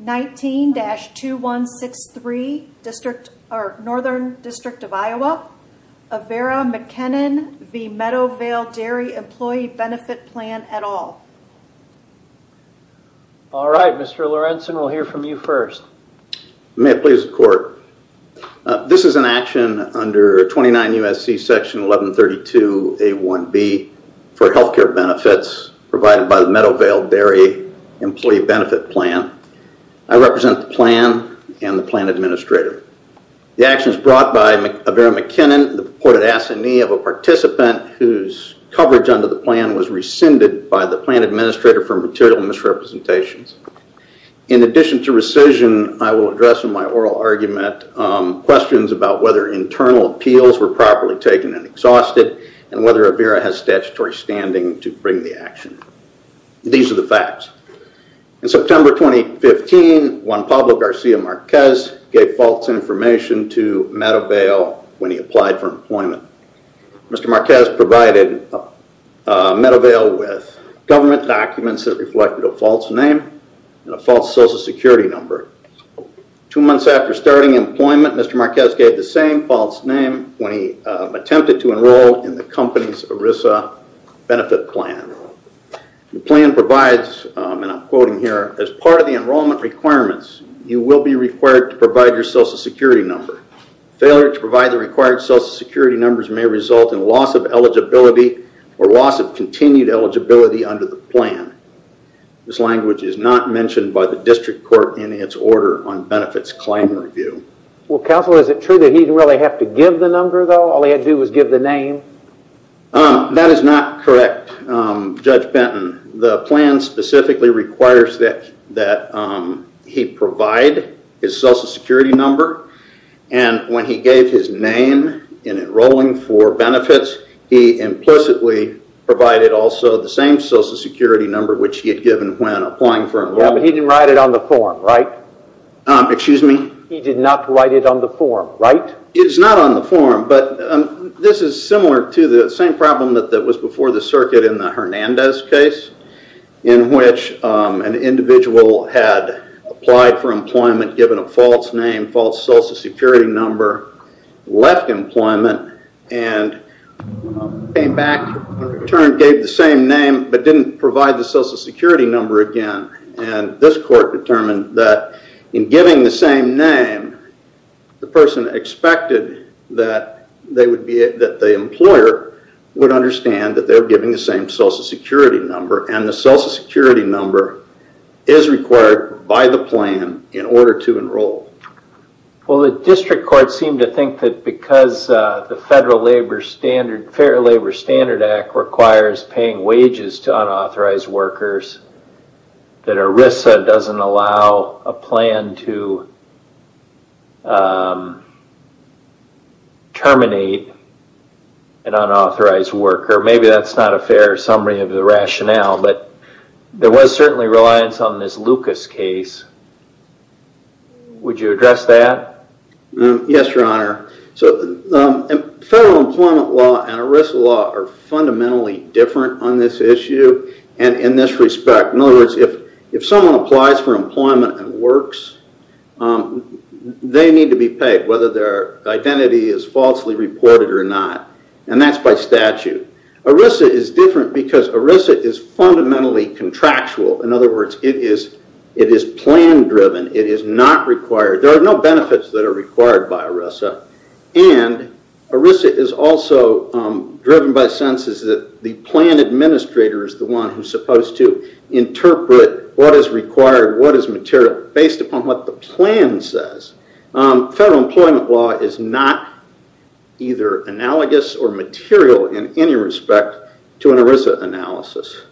19-2163, Northern District of Iowa, Avera McKennan v. Meadowvale Dairy Employee Benefit Plan et al. Alright, Mr. Lorenzen, we'll hear from you first. May it please the court. This is an action under 29 U.S.C. Section 1132A1B for healthcare benefits provided by the Meadowvale Dairy Employee Benefit Plan. I represent the plan and the plan administrator. The action is brought by Avera McKennan, the purported assignee of a participant whose coverage under the plan was rescinded by the plan administrator for material misrepresentations. In addition to rescission, I will address in my oral argument questions about whether internal appeals were properly taken and exhausted and whether Avera has statutory standing to bring the action. These are the facts. In September 2015, Juan Pablo Garcia Marquez gave false information to Meadowvale when he applied for employment. Mr. Marquez provided Meadowvale with government documents that reflected a false name and a false social security number. Two months after starting employment, Mr. Marquez gave the same false name when he attempted to enroll in the company's ERISA benefit plan. The plan provides, and I'm quoting here, as part of the enrollment requirements, you will be required to provide your social security number. Failure to provide the required social security numbers may result in loss of eligibility or loss of continued eligibility under the plan. This language is not mentioned by the district court in its order on benefits claim review. Well, counsel, is it true that he didn't really have to give the number though? All he had to do was give the name? That is not correct, Judge Benton. The plan specifically requires that he provide his social security number and when he gave his name in enrolling for benefits, he implicitly provided also the same social security number which he had given when applying for enrollment. Yeah, but he didn't write it on the form, right? Excuse me? He did not write it on the form, right? It's not on the form, but this is similar to the same problem that was before the circuit in the Hernandez case in which an individual had applied for employment, given a false name, false social security number, left employment, and came back, returned, gave the same name, but didn't provide the social security number again. This court determined that in giving the same name, the person expected that the employer would understand that they were giving the same social security number and the social security number is required by the plan in order to enroll. Well, the district court seemed to think that because the Fair Labor Standard Act requires paying wages to unauthorized workers, that ERISA doesn't allow a plan to terminate an unauthorized worker. Maybe that's not a fair summary of the rationale, but there was certainly reliance on this Lucas case. Would you address that? Yes, Your Honor. Federal employment law and ERISA law are fundamentally different on this issue and in this respect. In other words, if someone applies for employment and works, they need to be paid whether their identity is falsely reported or not. And that's by statute. ERISA is different because ERISA is fundamentally contractual. In other words, it is plan driven. It is not required. There are no benefits that are required by ERISA. And ERISA is also driven by senses that the plan administrator is the one who's supposed to interpret what is required, what is material, based upon what the plan says. Federal employment law is not either analogous or material in any respect to an ERISA analysis.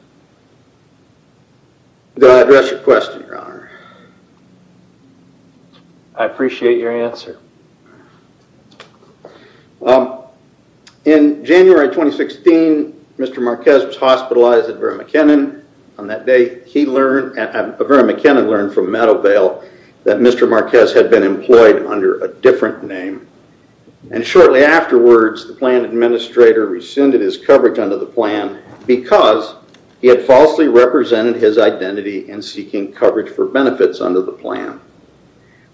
Did I address your question, Your Honor? I appreciate your answer. In January 2016, Mr. Marquez was hospitalized at Vera McKinnon. On that day, Vera McKinnon learned from Meadowvale that Mr. Marquez had been employed under a different name. And shortly afterwards, the plan administrator rescinded his coverage under the plan because he had falsely represented his identity in seeking coverage for benefits under the plan.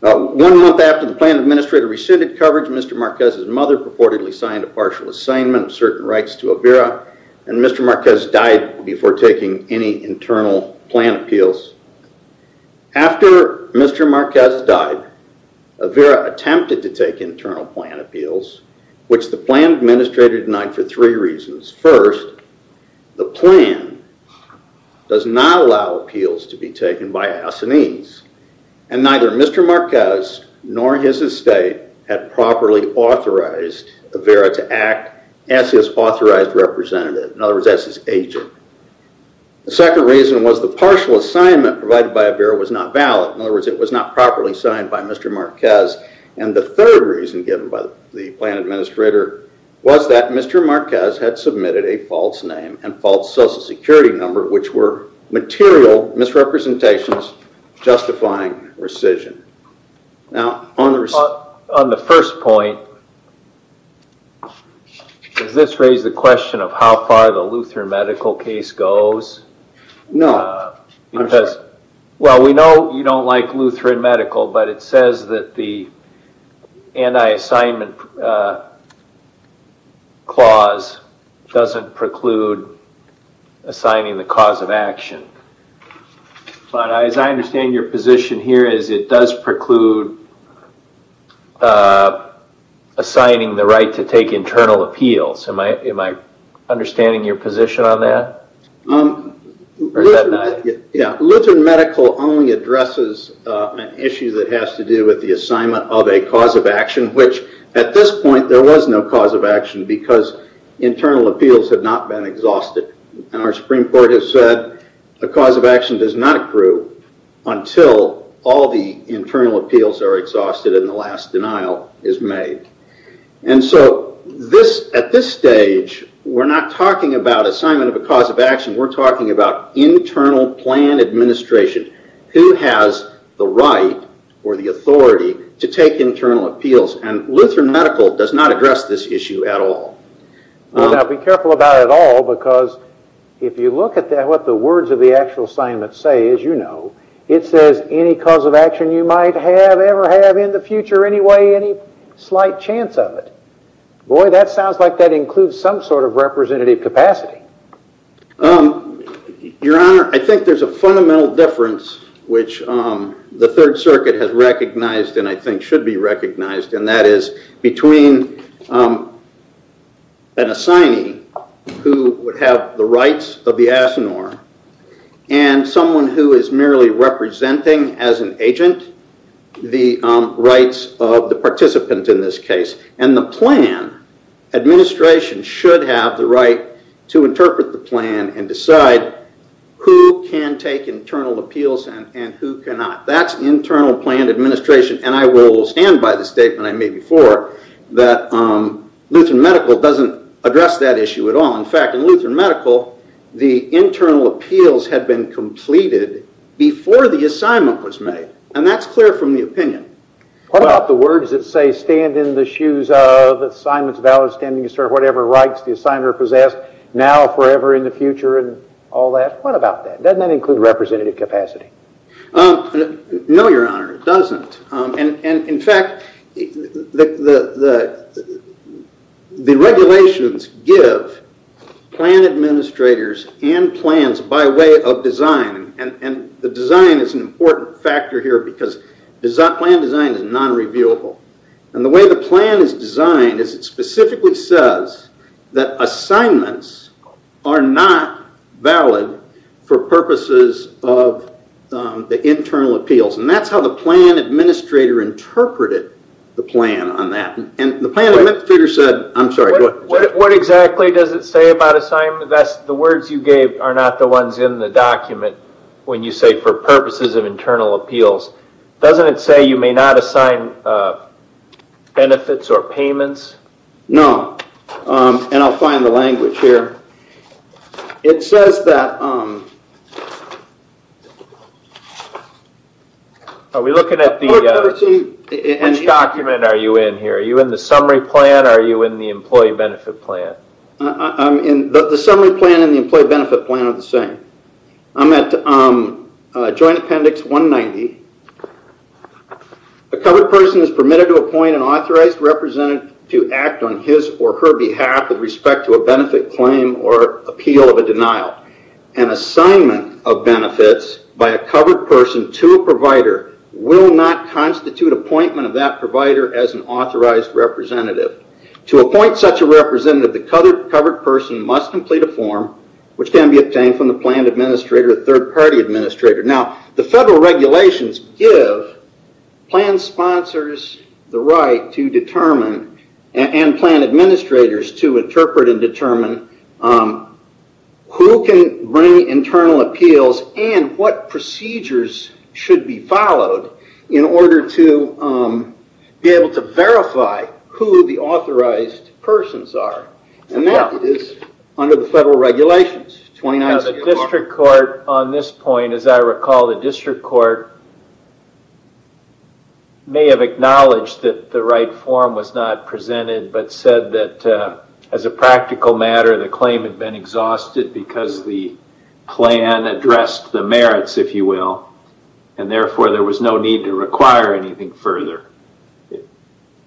One month after the plan administrator rescinded coverage, Mr. Marquez's mother purportedly signed a partial assignment of certain rights to Vera. And Mr. Marquez died before taking any internal plan appeals. After Mr. Marquez died, Vera attempted to take internal plan appeals, which the plan administrator denied for three reasons. First, the plan does not allow appeals to be taken by assinees. And neither Mr. Marquez nor his estate had properly authorized Vera to act as his authorized representative. In other words, as his agent. The second reason was the partial assignment provided by Vera was not valid. In other words, it was not properly signed by Mr. Marquez. And the third reason given by the plan administrator was that Mr. Marquez had submitted a false name and false social security number, which were material misrepresentations justifying rescission. Now, on the first point, does this raise the question of how far the Lutheran medical case goes? No. Well, we know you don't like Lutheran medical, but it says that the anti-assignment clause doesn't preclude assigning the cause of action. But as I understand your position here is it does preclude assigning the right to take internal appeals. Am I understanding your position on that? Lutheran medical only addresses an issue that has to do with the assignment of a cause of action, which at this point there was no cause of action because internal appeals had not been exhausted. And our Supreme Court has said a cause of action does not accrue until all the internal appeals are exhausted and the last denial is made. And so, at this stage, we're not talking about assignment of a cause of action, we're talking about internal plan administration. Who has the right or the authority to take internal appeals? And Lutheran medical does not address this issue at all. Now, be careful about it all because if you look at what the words of the actual assignment say, as you know, it says any cause of action you might have, ever have, in the future, any way, any slight chance of it. Boy, that sounds like that includes some sort of representative capacity. Your Honor, I think there's a fundamental difference which the Third Circuit has recognized and I think should be recognized, and that is between an assignee who would have the rights of the asinore and someone who is merely representing as an agent the rights of the participant in this case. And the plan administration should have the right to interpret the plan and decide who can take internal appeals and who cannot. That's internal plan administration and I will stand by the statement I made before that Lutheran medical doesn't address that issue at all. In fact, in Lutheran medical, the internal appeals had been completed before the assignment was made. And that's clear from the opinion. What about the words that say, stand in the shoes of, the assignment is valid, stand in the shoes of whatever rights the asinore possessed, now, forever, in the future, and all that? What about that? Doesn't that include representative capacity? No, Your Honor, it doesn't. And in fact, the regulations give plan administrators and plans by way of design, and the design is an important factor here because plan design is non-reviewable. And the way the plan is designed is it specifically says that assignments are not valid for purposes of the internal appeals. And that's how the plan administrator interpreted the plan on that. What exactly does it say about assignment? The words you gave are not the ones in the document when you say for purposes of internal appeals. Doesn't it say you may not assign benefits or payments? No, and I'll find the language here. It says that... Are we looking at the... Which document are you in here? Are you in the summary plan or are you in the employee benefit plan? The summary plan and the employee benefit plan are the same. I'm at Joint Appendix 190. A covered person is permitted to appoint an authorized representative to act on his or her behalf with respect to a benefit claim or appeal of a denial. An assignment of benefits by a covered person to a provider will not constitute appointment of that provider as an authorized representative. To appoint such a representative, the covered person must complete a form which can be obtained from the plan administrator or third party administrator. Now, the federal regulations give plan sponsors the right to determine and plan administrators to interpret and determine who can bring internal appeals and what procedures should be followed in order to be able to verify who the authorized persons are. And that is under the federal regulations. The district court on this point, as I recall, the district court may have acknowledged that the right form was not presented, but said that as a practical matter the claim had been exhausted because the plan addressed the merits, if you will, and therefore there was no need to require anything further.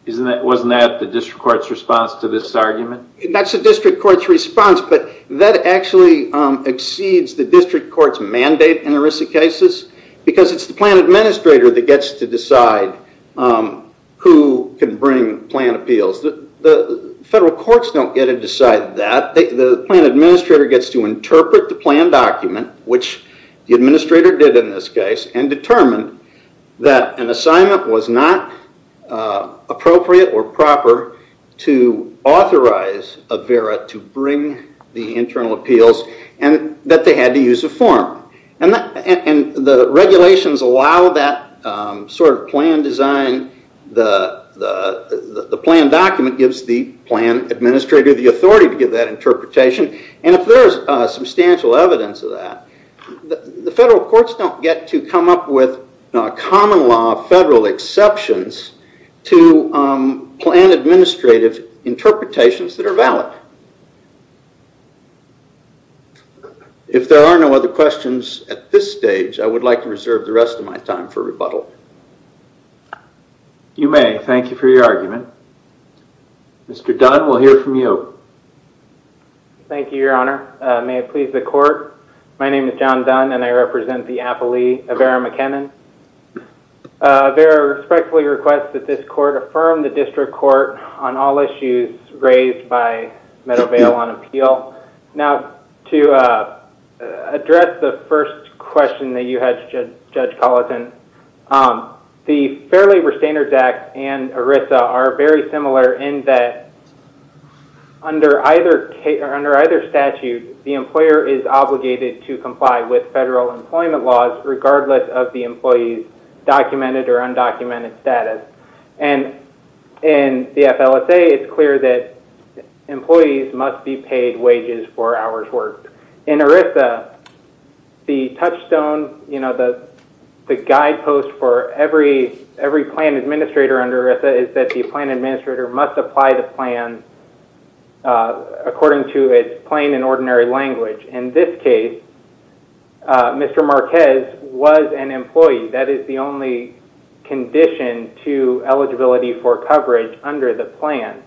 Wasn't that the district court's response to this argument? That's the district court's response, but that actually exceeds the district court's mandate in ERISA cases because it's the plan administrator that gets to decide who can bring plan appeals. The federal courts don't get to decide that. The plan administrator gets to interpret the plan document, which the administrator did in this case, and determined that an assignment was not appropriate or proper to authorize a VERA to bring the internal appeals and that they had to use a form. The regulations allow that sort of plan design. The plan document gives the plan administrator the authority to give that interpretation. If there is substantial evidence of that, the federal courts don't get to come up with common law federal exceptions to plan administrative interpretations that are valid. If there are no other questions at this stage, I would like to reserve the rest of my time for rebuttal. You may. Thank you for your argument. Mr. Dunn, we'll hear from you. Thank you, Your Honor. May it please the court. My name is John Dunn, and I represent the affilee of VERA McKinnon. VERA respectfully requests that this court affirm the district court on all issues raised by Meadowvale on appeal. Now, to address the first question that you had, Judge Colleton, the Fair Labor Standards Act and ERISA are very similar in that under either statute, the employer is obligated to comply with federal employment laws regardless of the employee's documented or undocumented status. And in the FLSA, it's clear that employees must be paid wages for hours worked. In ERISA, the touchstone, the guidepost for every plan administrator under ERISA is that the plan administrator must apply the plan according to its plain and ordinary language. In this case, Mr. Marquez was an employee. That is the only condition to eligibility for coverage under the plan.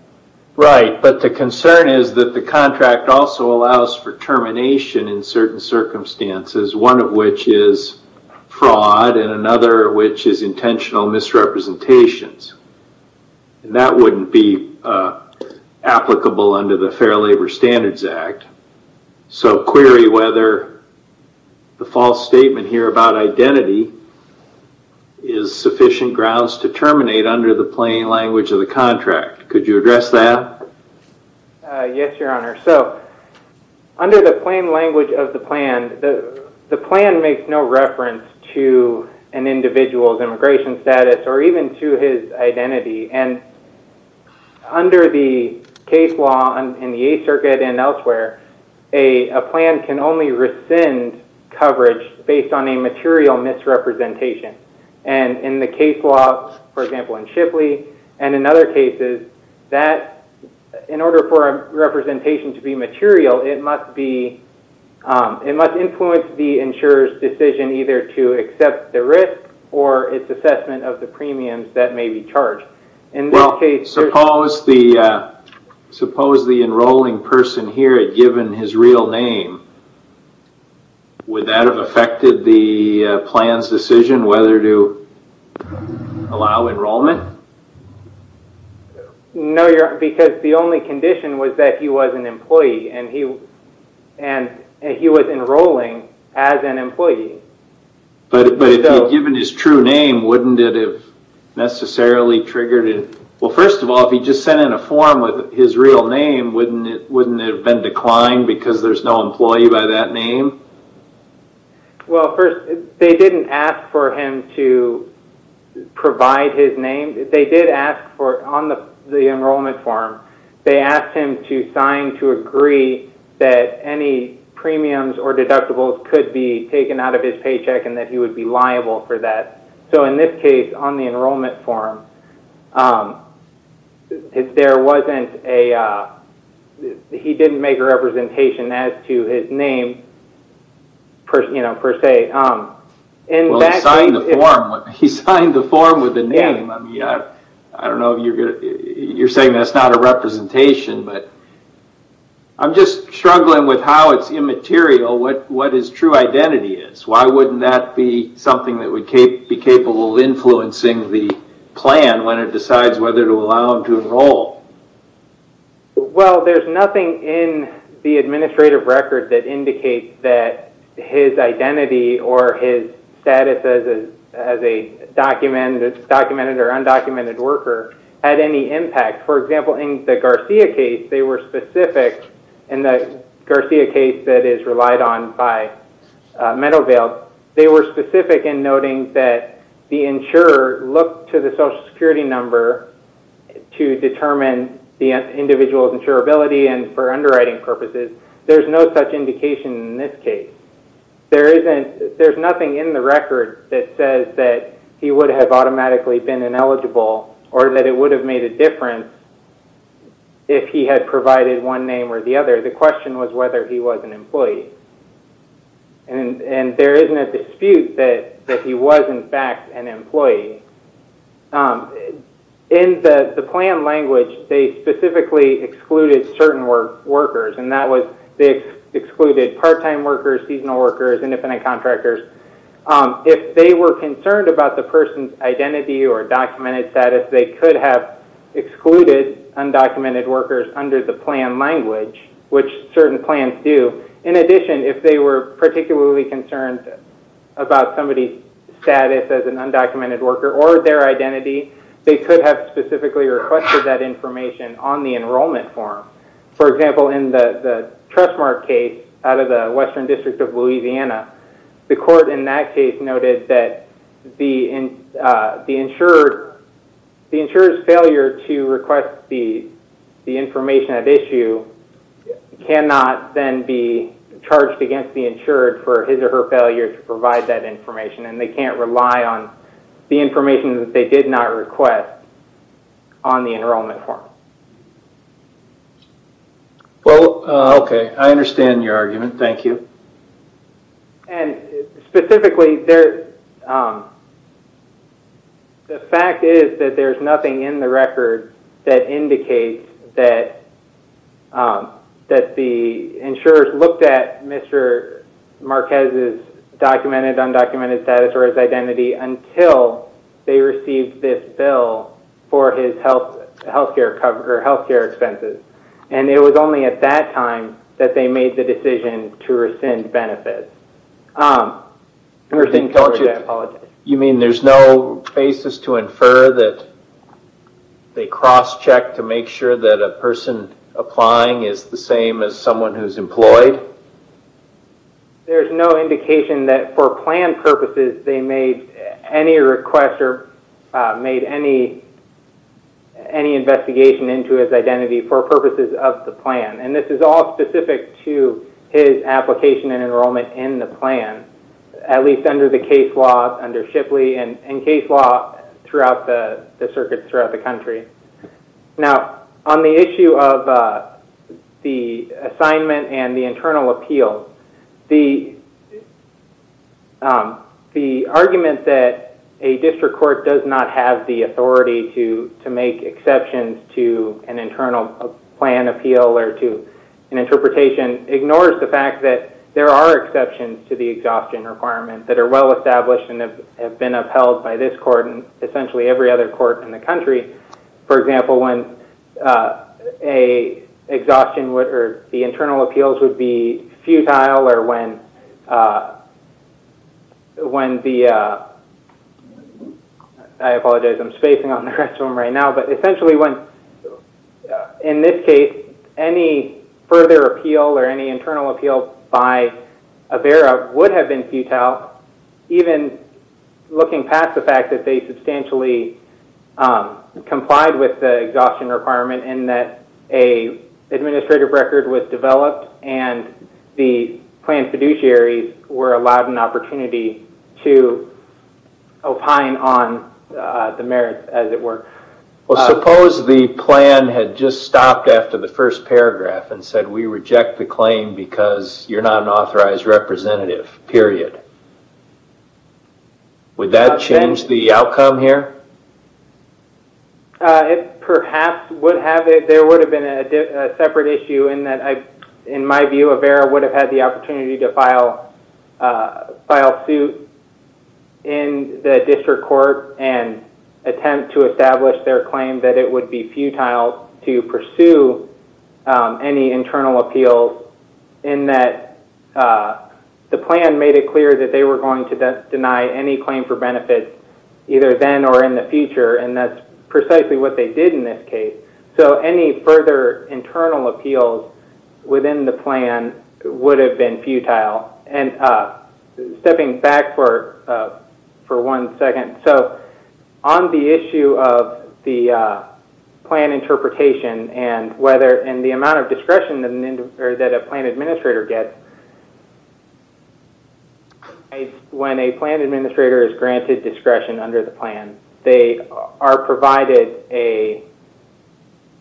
Right, but the concern is that the contract also allows for termination in certain circumstances, one of which is fraud and another which is intentional misrepresentations. And that wouldn't be applicable under the Fair Labor Standards Act. So query whether the false statement here about identity is sufficient grounds to terminate under the plain language of the contract. Can you address that? Yes, Your Honor. So under the plain language of the plan, the plan makes no reference to an individual's immigration status or even to his identity. And under the case law in the Eighth Circuit and elsewhere, a plan can only rescind coverage based on a material misrepresentation. And in the case law, for example, in Shipley and in other cases, in order for a representation to be material, it must influence the insurer's decision either to accept the risk or its assessment of the premiums that may be charged. Well, suppose the enrolling person here had given his real name. Would that have affected the plan's decision whether to allow enrollment? No, Your Honor, because the only condition was that he was an employee and he was enrolling as an employee. But if he had given his true name, wouldn't it have necessarily triggered it? Well, first of all, if he just sent in a form with his real name, wouldn't it have been declined because there's no employee by that name? Well, first, they didn't ask for him to provide his name. They did ask for it on the enrollment form. They asked him to sign to agree that any premiums or deductibles could be taken out of his paycheck and that he would be liable for that. So in this case, on the enrollment form, he didn't make a representation as to his name per se. Well, he signed the form with the name. I don't know if you're saying that's not a representation, but I'm just struggling with how it's immaterial, what his true identity is. Why wouldn't that be something that would be capable of influencing the plan when it decides whether to allow him to enroll? Well, there's nothing in the administrative record that indicates that his identity or his status as a documented or undocumented worker had any impact. For example, in the Garcia case, they were specific. In the Garcia case that is relied on by Meadowvale, they were specific in noting that the insurer looked to the Social Security number to determine the individual's insurability and for underwriting purposes. There's no such indication in this case. There's nothing in the record that says that he would have automatically been ineligible or that it would have made a difference if he had provided one name or the other. The question was whether he was an employee. And there isn't a dispute that he was, in fact, an employee. In the plan language, they specifically excluded certain workers. They excluded part-time workers, seasonal workers, independent contractors. If they were concerned about the person's identity or documented status, they could have excluded undocumented workers under the plan language, which certain plans do. In addition, if they were particularly concerned about somebody's status as an undocumented worker or their identity, they could have specifically requested that information on the enrollment form. For example, in the Trustmark case out of the Western District of Louisiana, the court in that case noted that the insurer's failure to request the information at issue cannot then be charged against the insured for his or her failure to provide that information. And they can't rely on the information that they did not request on the enrollment form. Well, okay. I understand your argument. Thank you. And specifically, the fact is that there's nothing in the record that indicates that the insurers looked at Mr. Marquez's documented, undocumented status or his identity until they received this bill for his health care expenses. And it was only at that time that they made the decision to rescind benefits. I'm sorry. I apologize. You mean there's no basis to infer that they cross-checked to make sure that a person applying is the same as someone who's employed? There's no indication that for plan purposes, they made any request or made any investigation into his identity for purposes of the plan. And this is all specific to his application and enrollment in the plan, at least under the case law under Shipley and case law throughout the circuit throughout the country. Now, on the issue of the assignment and the internal appeal, the argument that a district court does not have the authority to make exceptions to an internal plan appeal or to an interpretation ignores the fact that there are exceptions to the exhaustion requirements that are well established and have been upheld by this court and essentially every other court in the country. For example, when a exhaustion or the internal appeals would be futile or when the, I apologize, I'm spacing on the rest of them right now, but essentially when, in this case, any further appeal or any internal appeal by AVERA would have been futile, even looking past the fact that they substantially complied with the exhaustion requirement and that an administrative record was developed and the plan fiduciaries were allowed an opportunity to opine on the merits, as it were. So suppose the plan had just stopped after the first paragraph and said we reject the claim because you're not an authorized representative, period. Would that change the outcome here? It perhaps would have. There would have been a separate issue in that, in my view, AVERA would have had the opportunity to file suit in the district court and attempt to establish their claim that it would be futile to pursue any internal appeals in that the plan made it clear that they were going to deny any claim for benefits either then or in the future and that's precisely what they did in this case. So any further internal appeals within the plan would have been futile. Stepping back for one second, so on the issue of the plan interpretation and the amount of discretion that a plan administrator gets, when a plan administrator is granted discretion under the plan, they are provided an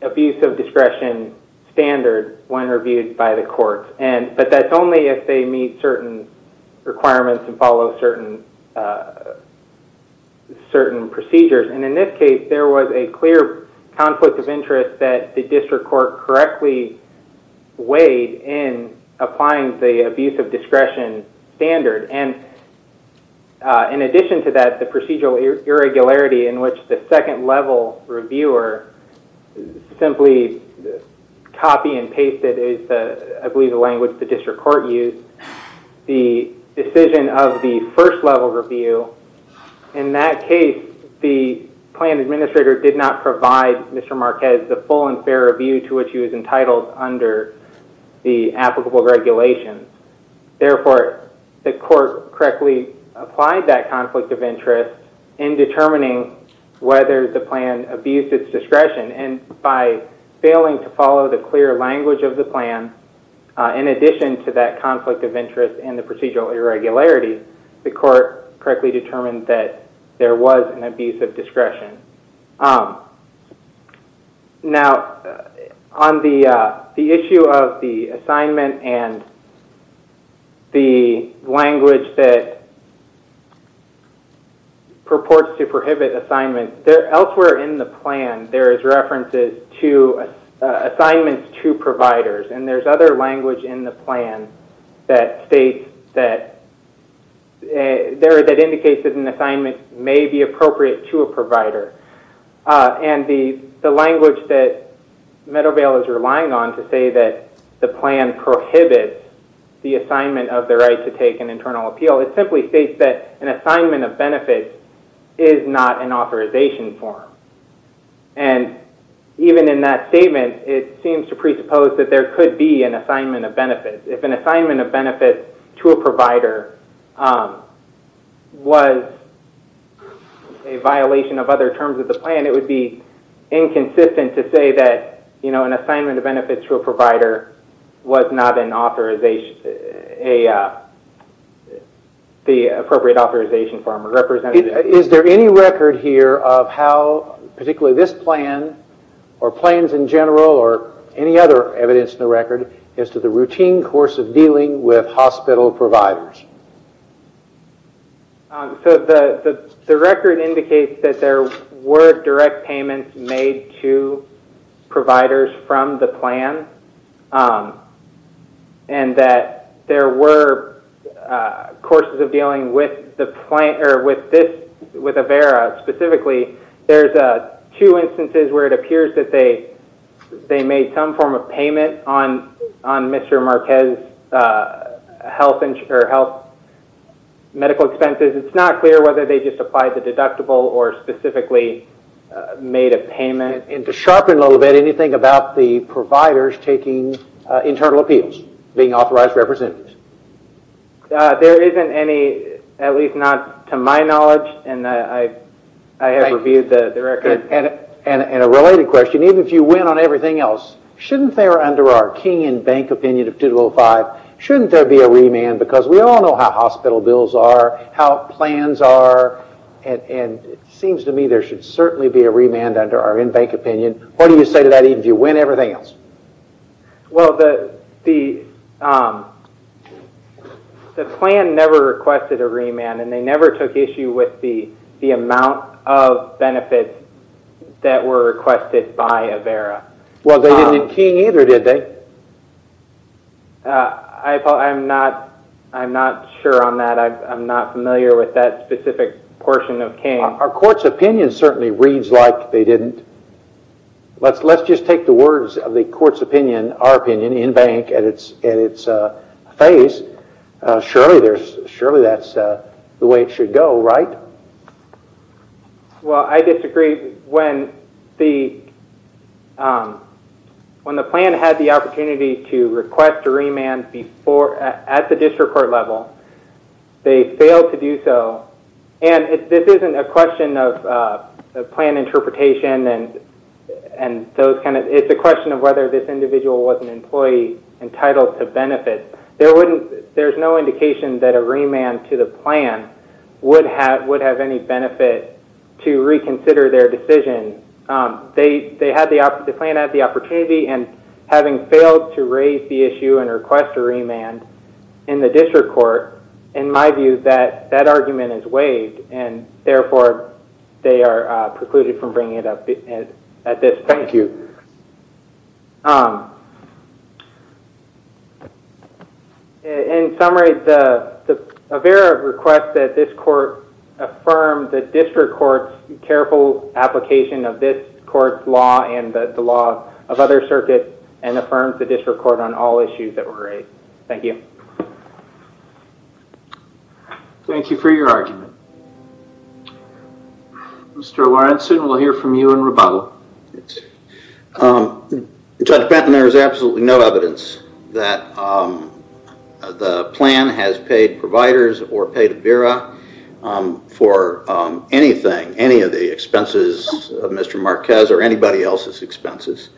abuse of discretion standard when reviewed by the court. But that's only if they meet certain requirements and follow certain procedures. In this case, there was a clear conflict of interest that the district court correctly weighed in applying the abuse of discretion standard. In addition to that, the procedural irregularity in which the second level reviewer simply copy and pasted, I believe the language the district court used, the decision of the first level review, in that case the plan administrator did not provide Mr. Marquez the full and fair review to which he was entitled under the applicable regulations. Therefore, the court correctly applied that conflict of interest in determining whether the plan abused its discretion and by failing to follow the clear language of the plan, in addition to that conflict of interest in the procedural irregularity, the court correctly determined that there was an abuse of discretion. Now, on the issue of the assignment and the language that purports to prohibit assignment, elsewhere in the plan there is references to assignments to providers and there's other language in the plan that states that, that indicates that an assignment may be appropriate to a provider. And the language that Meadowvale is relying on to say that the plan prohibits the assignment of the right to take an internal appeal, it simply states that an assignment of benefits is not an authorization form. And even in that statement it seems to presuppose that there could be an assignment of benefits. If an assignment of benefits to a provider was a violation of other terms of the plan, it would be inconsistent to say that an assignment of benefits to a provider was not an authorization, the appropriate authorization form. Is there any record here of how, particularly this plan, or plans in general or any other evidence in the record, as to the routine course of dealing with hospital providers? The record indicates that there were direct payments made to providers from the plan. And that there were courses of dealing with the plan, or with this, with Avera specifically, there's two instances where it appears that they made some form of payment on Mr. Marquez's health medical expenses. It's not clear whether they just applied the deductible or specifically made a payment. And to sharpen a little bit, anything about the providers taking internal appeals, being authorized representatives? There isn't any, at least not to my knowledge, and I have reviewed the record. And a related question, even if you win on everything else, shouldn't there, under our king and bank opinion of 2205, shouldn't there be a remand? Because we all know how hospital bills are, how plans are, and it seems to me there should certainly be a remand under our in-bank opinion. What do you say to that even if you win everything else? Well, the plan never requested a remand, and they never took issue with the amount of benefits that were requested by Avera. Well, they didn't in king either, did they? I'm not sure on that. I'm not familiar with that specific portion of king. Our court's opinion certainly reads like they didn't. Let's just take the words of the court's opinion, our opinion, in-bank at its face. Surely that's the way it should go, right? Well, I disagree. When the plan had the opportunity to request a remand at the district court level, they failed to do so. And this isn't a question of plan interpretation, it's a question of whether this individual was an employee entitled to benefit. There's no indication that a remand to the plan would have any benefit to reconsider their decision. The plan had the opportunity, and having failed to raise the issue and request a remand in the district court, I argue that that argument is waived, and therefore they are precluded from bringing it up at this point. Thank you. In summary, Avera requests that this court affirm the district court's careful application of this court's law and the law of other circuits, and affirms the district court on all issues that were raised. Thank you. Thank you for your argument. Mr. Lawrenson, we'll hear from you in rebuttal. Judge Patton, there is absolutely no evidence that the plan has paid providers or paid Avera for anything, any of the expenses of Mr. Marquez or anybody else's expenses.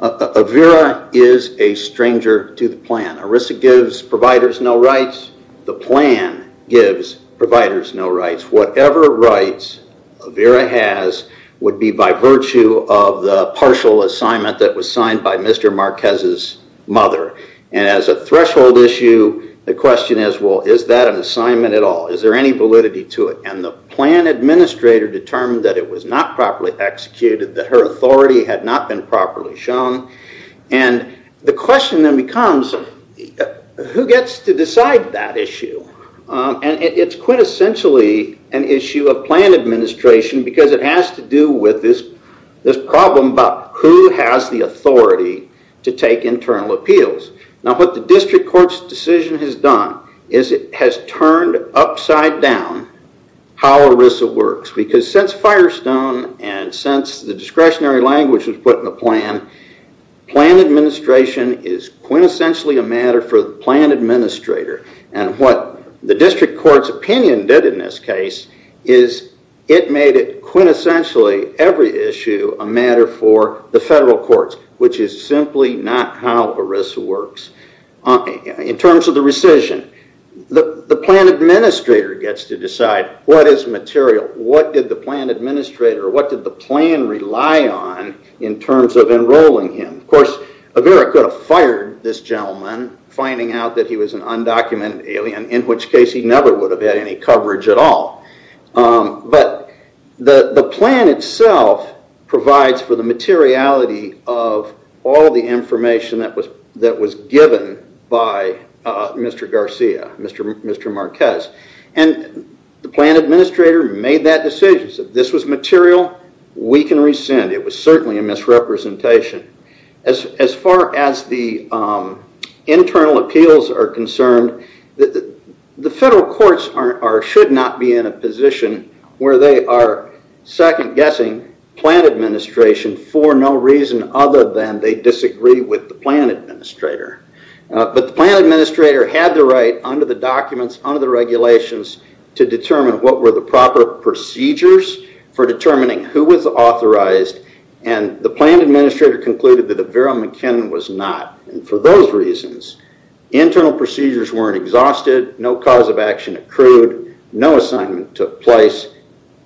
Avera is a stranger to the plan. Arisa gives providers no rights. The plan gives providers no rights. Whatever rights Avera has would be by virtue of the partial assignment that was signed by Mr. Marquez's mother. As a threshold issue, the question is, is that an assignment at all? Is there any validity to it? The plan administrator determined that it was not properly executed, that her authority had not been properly shown. The question then becomes, who gets to decide that issue? It's quintessentially an issue of plan administration because it has to do with this problem about who has the authority to take internal appeals. What the district court's decision has done is it has turned upside down how Arisa works. Since Firestone and since the discretionary language was put in the plan, plan administration is quintessentially a matter for the plan administrator. What the district court's opinion did in this case is it made it quintessentially every issue a matter for the federal courts, which is simply not how Arisa works. In terms of the rescission, the plan administrator gets to decide what is material. What did the plan administrator or what did the plan rely on in terms of enrolling him? Of course, Avera could have fired this gentleman, finding out that he was an undocumented alien, in which case he never would have had any coverage at all. The plan itself provides for the materiality of all the information that was given by Mr. Garcia, Mr. Marquez. The plan administrator made that decision, said if this was material, we can rescind. It was certainly a misrepresentation. As far as the internal appeals are concerned, the federal courts should not be in a position where they are second-guessing plan administration for no reason other than they disagree with the plan administrator. The plan administrator had the right, under the documents, under the regulations, to determine what were the proper procedures for determining who was authorized. The plan administrator concluded that Avera McKinnon was not. For those reasons, internal procedures weren't exhausted. No cause of action accrued. No assignment took place.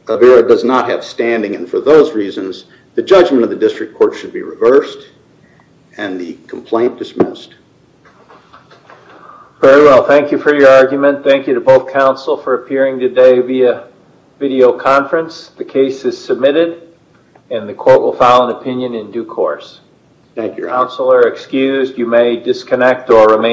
Avera does not have standing. For those reasons, the judgment of the district court should be reversed and the complaint dismissed. Very well. Thank you for your argument. Thank you to both counsel for appearing today via videoconference. The case is submitted and the court will file an opinion in due course. Thank you. Counsel are excused. You may disconnect or remain on.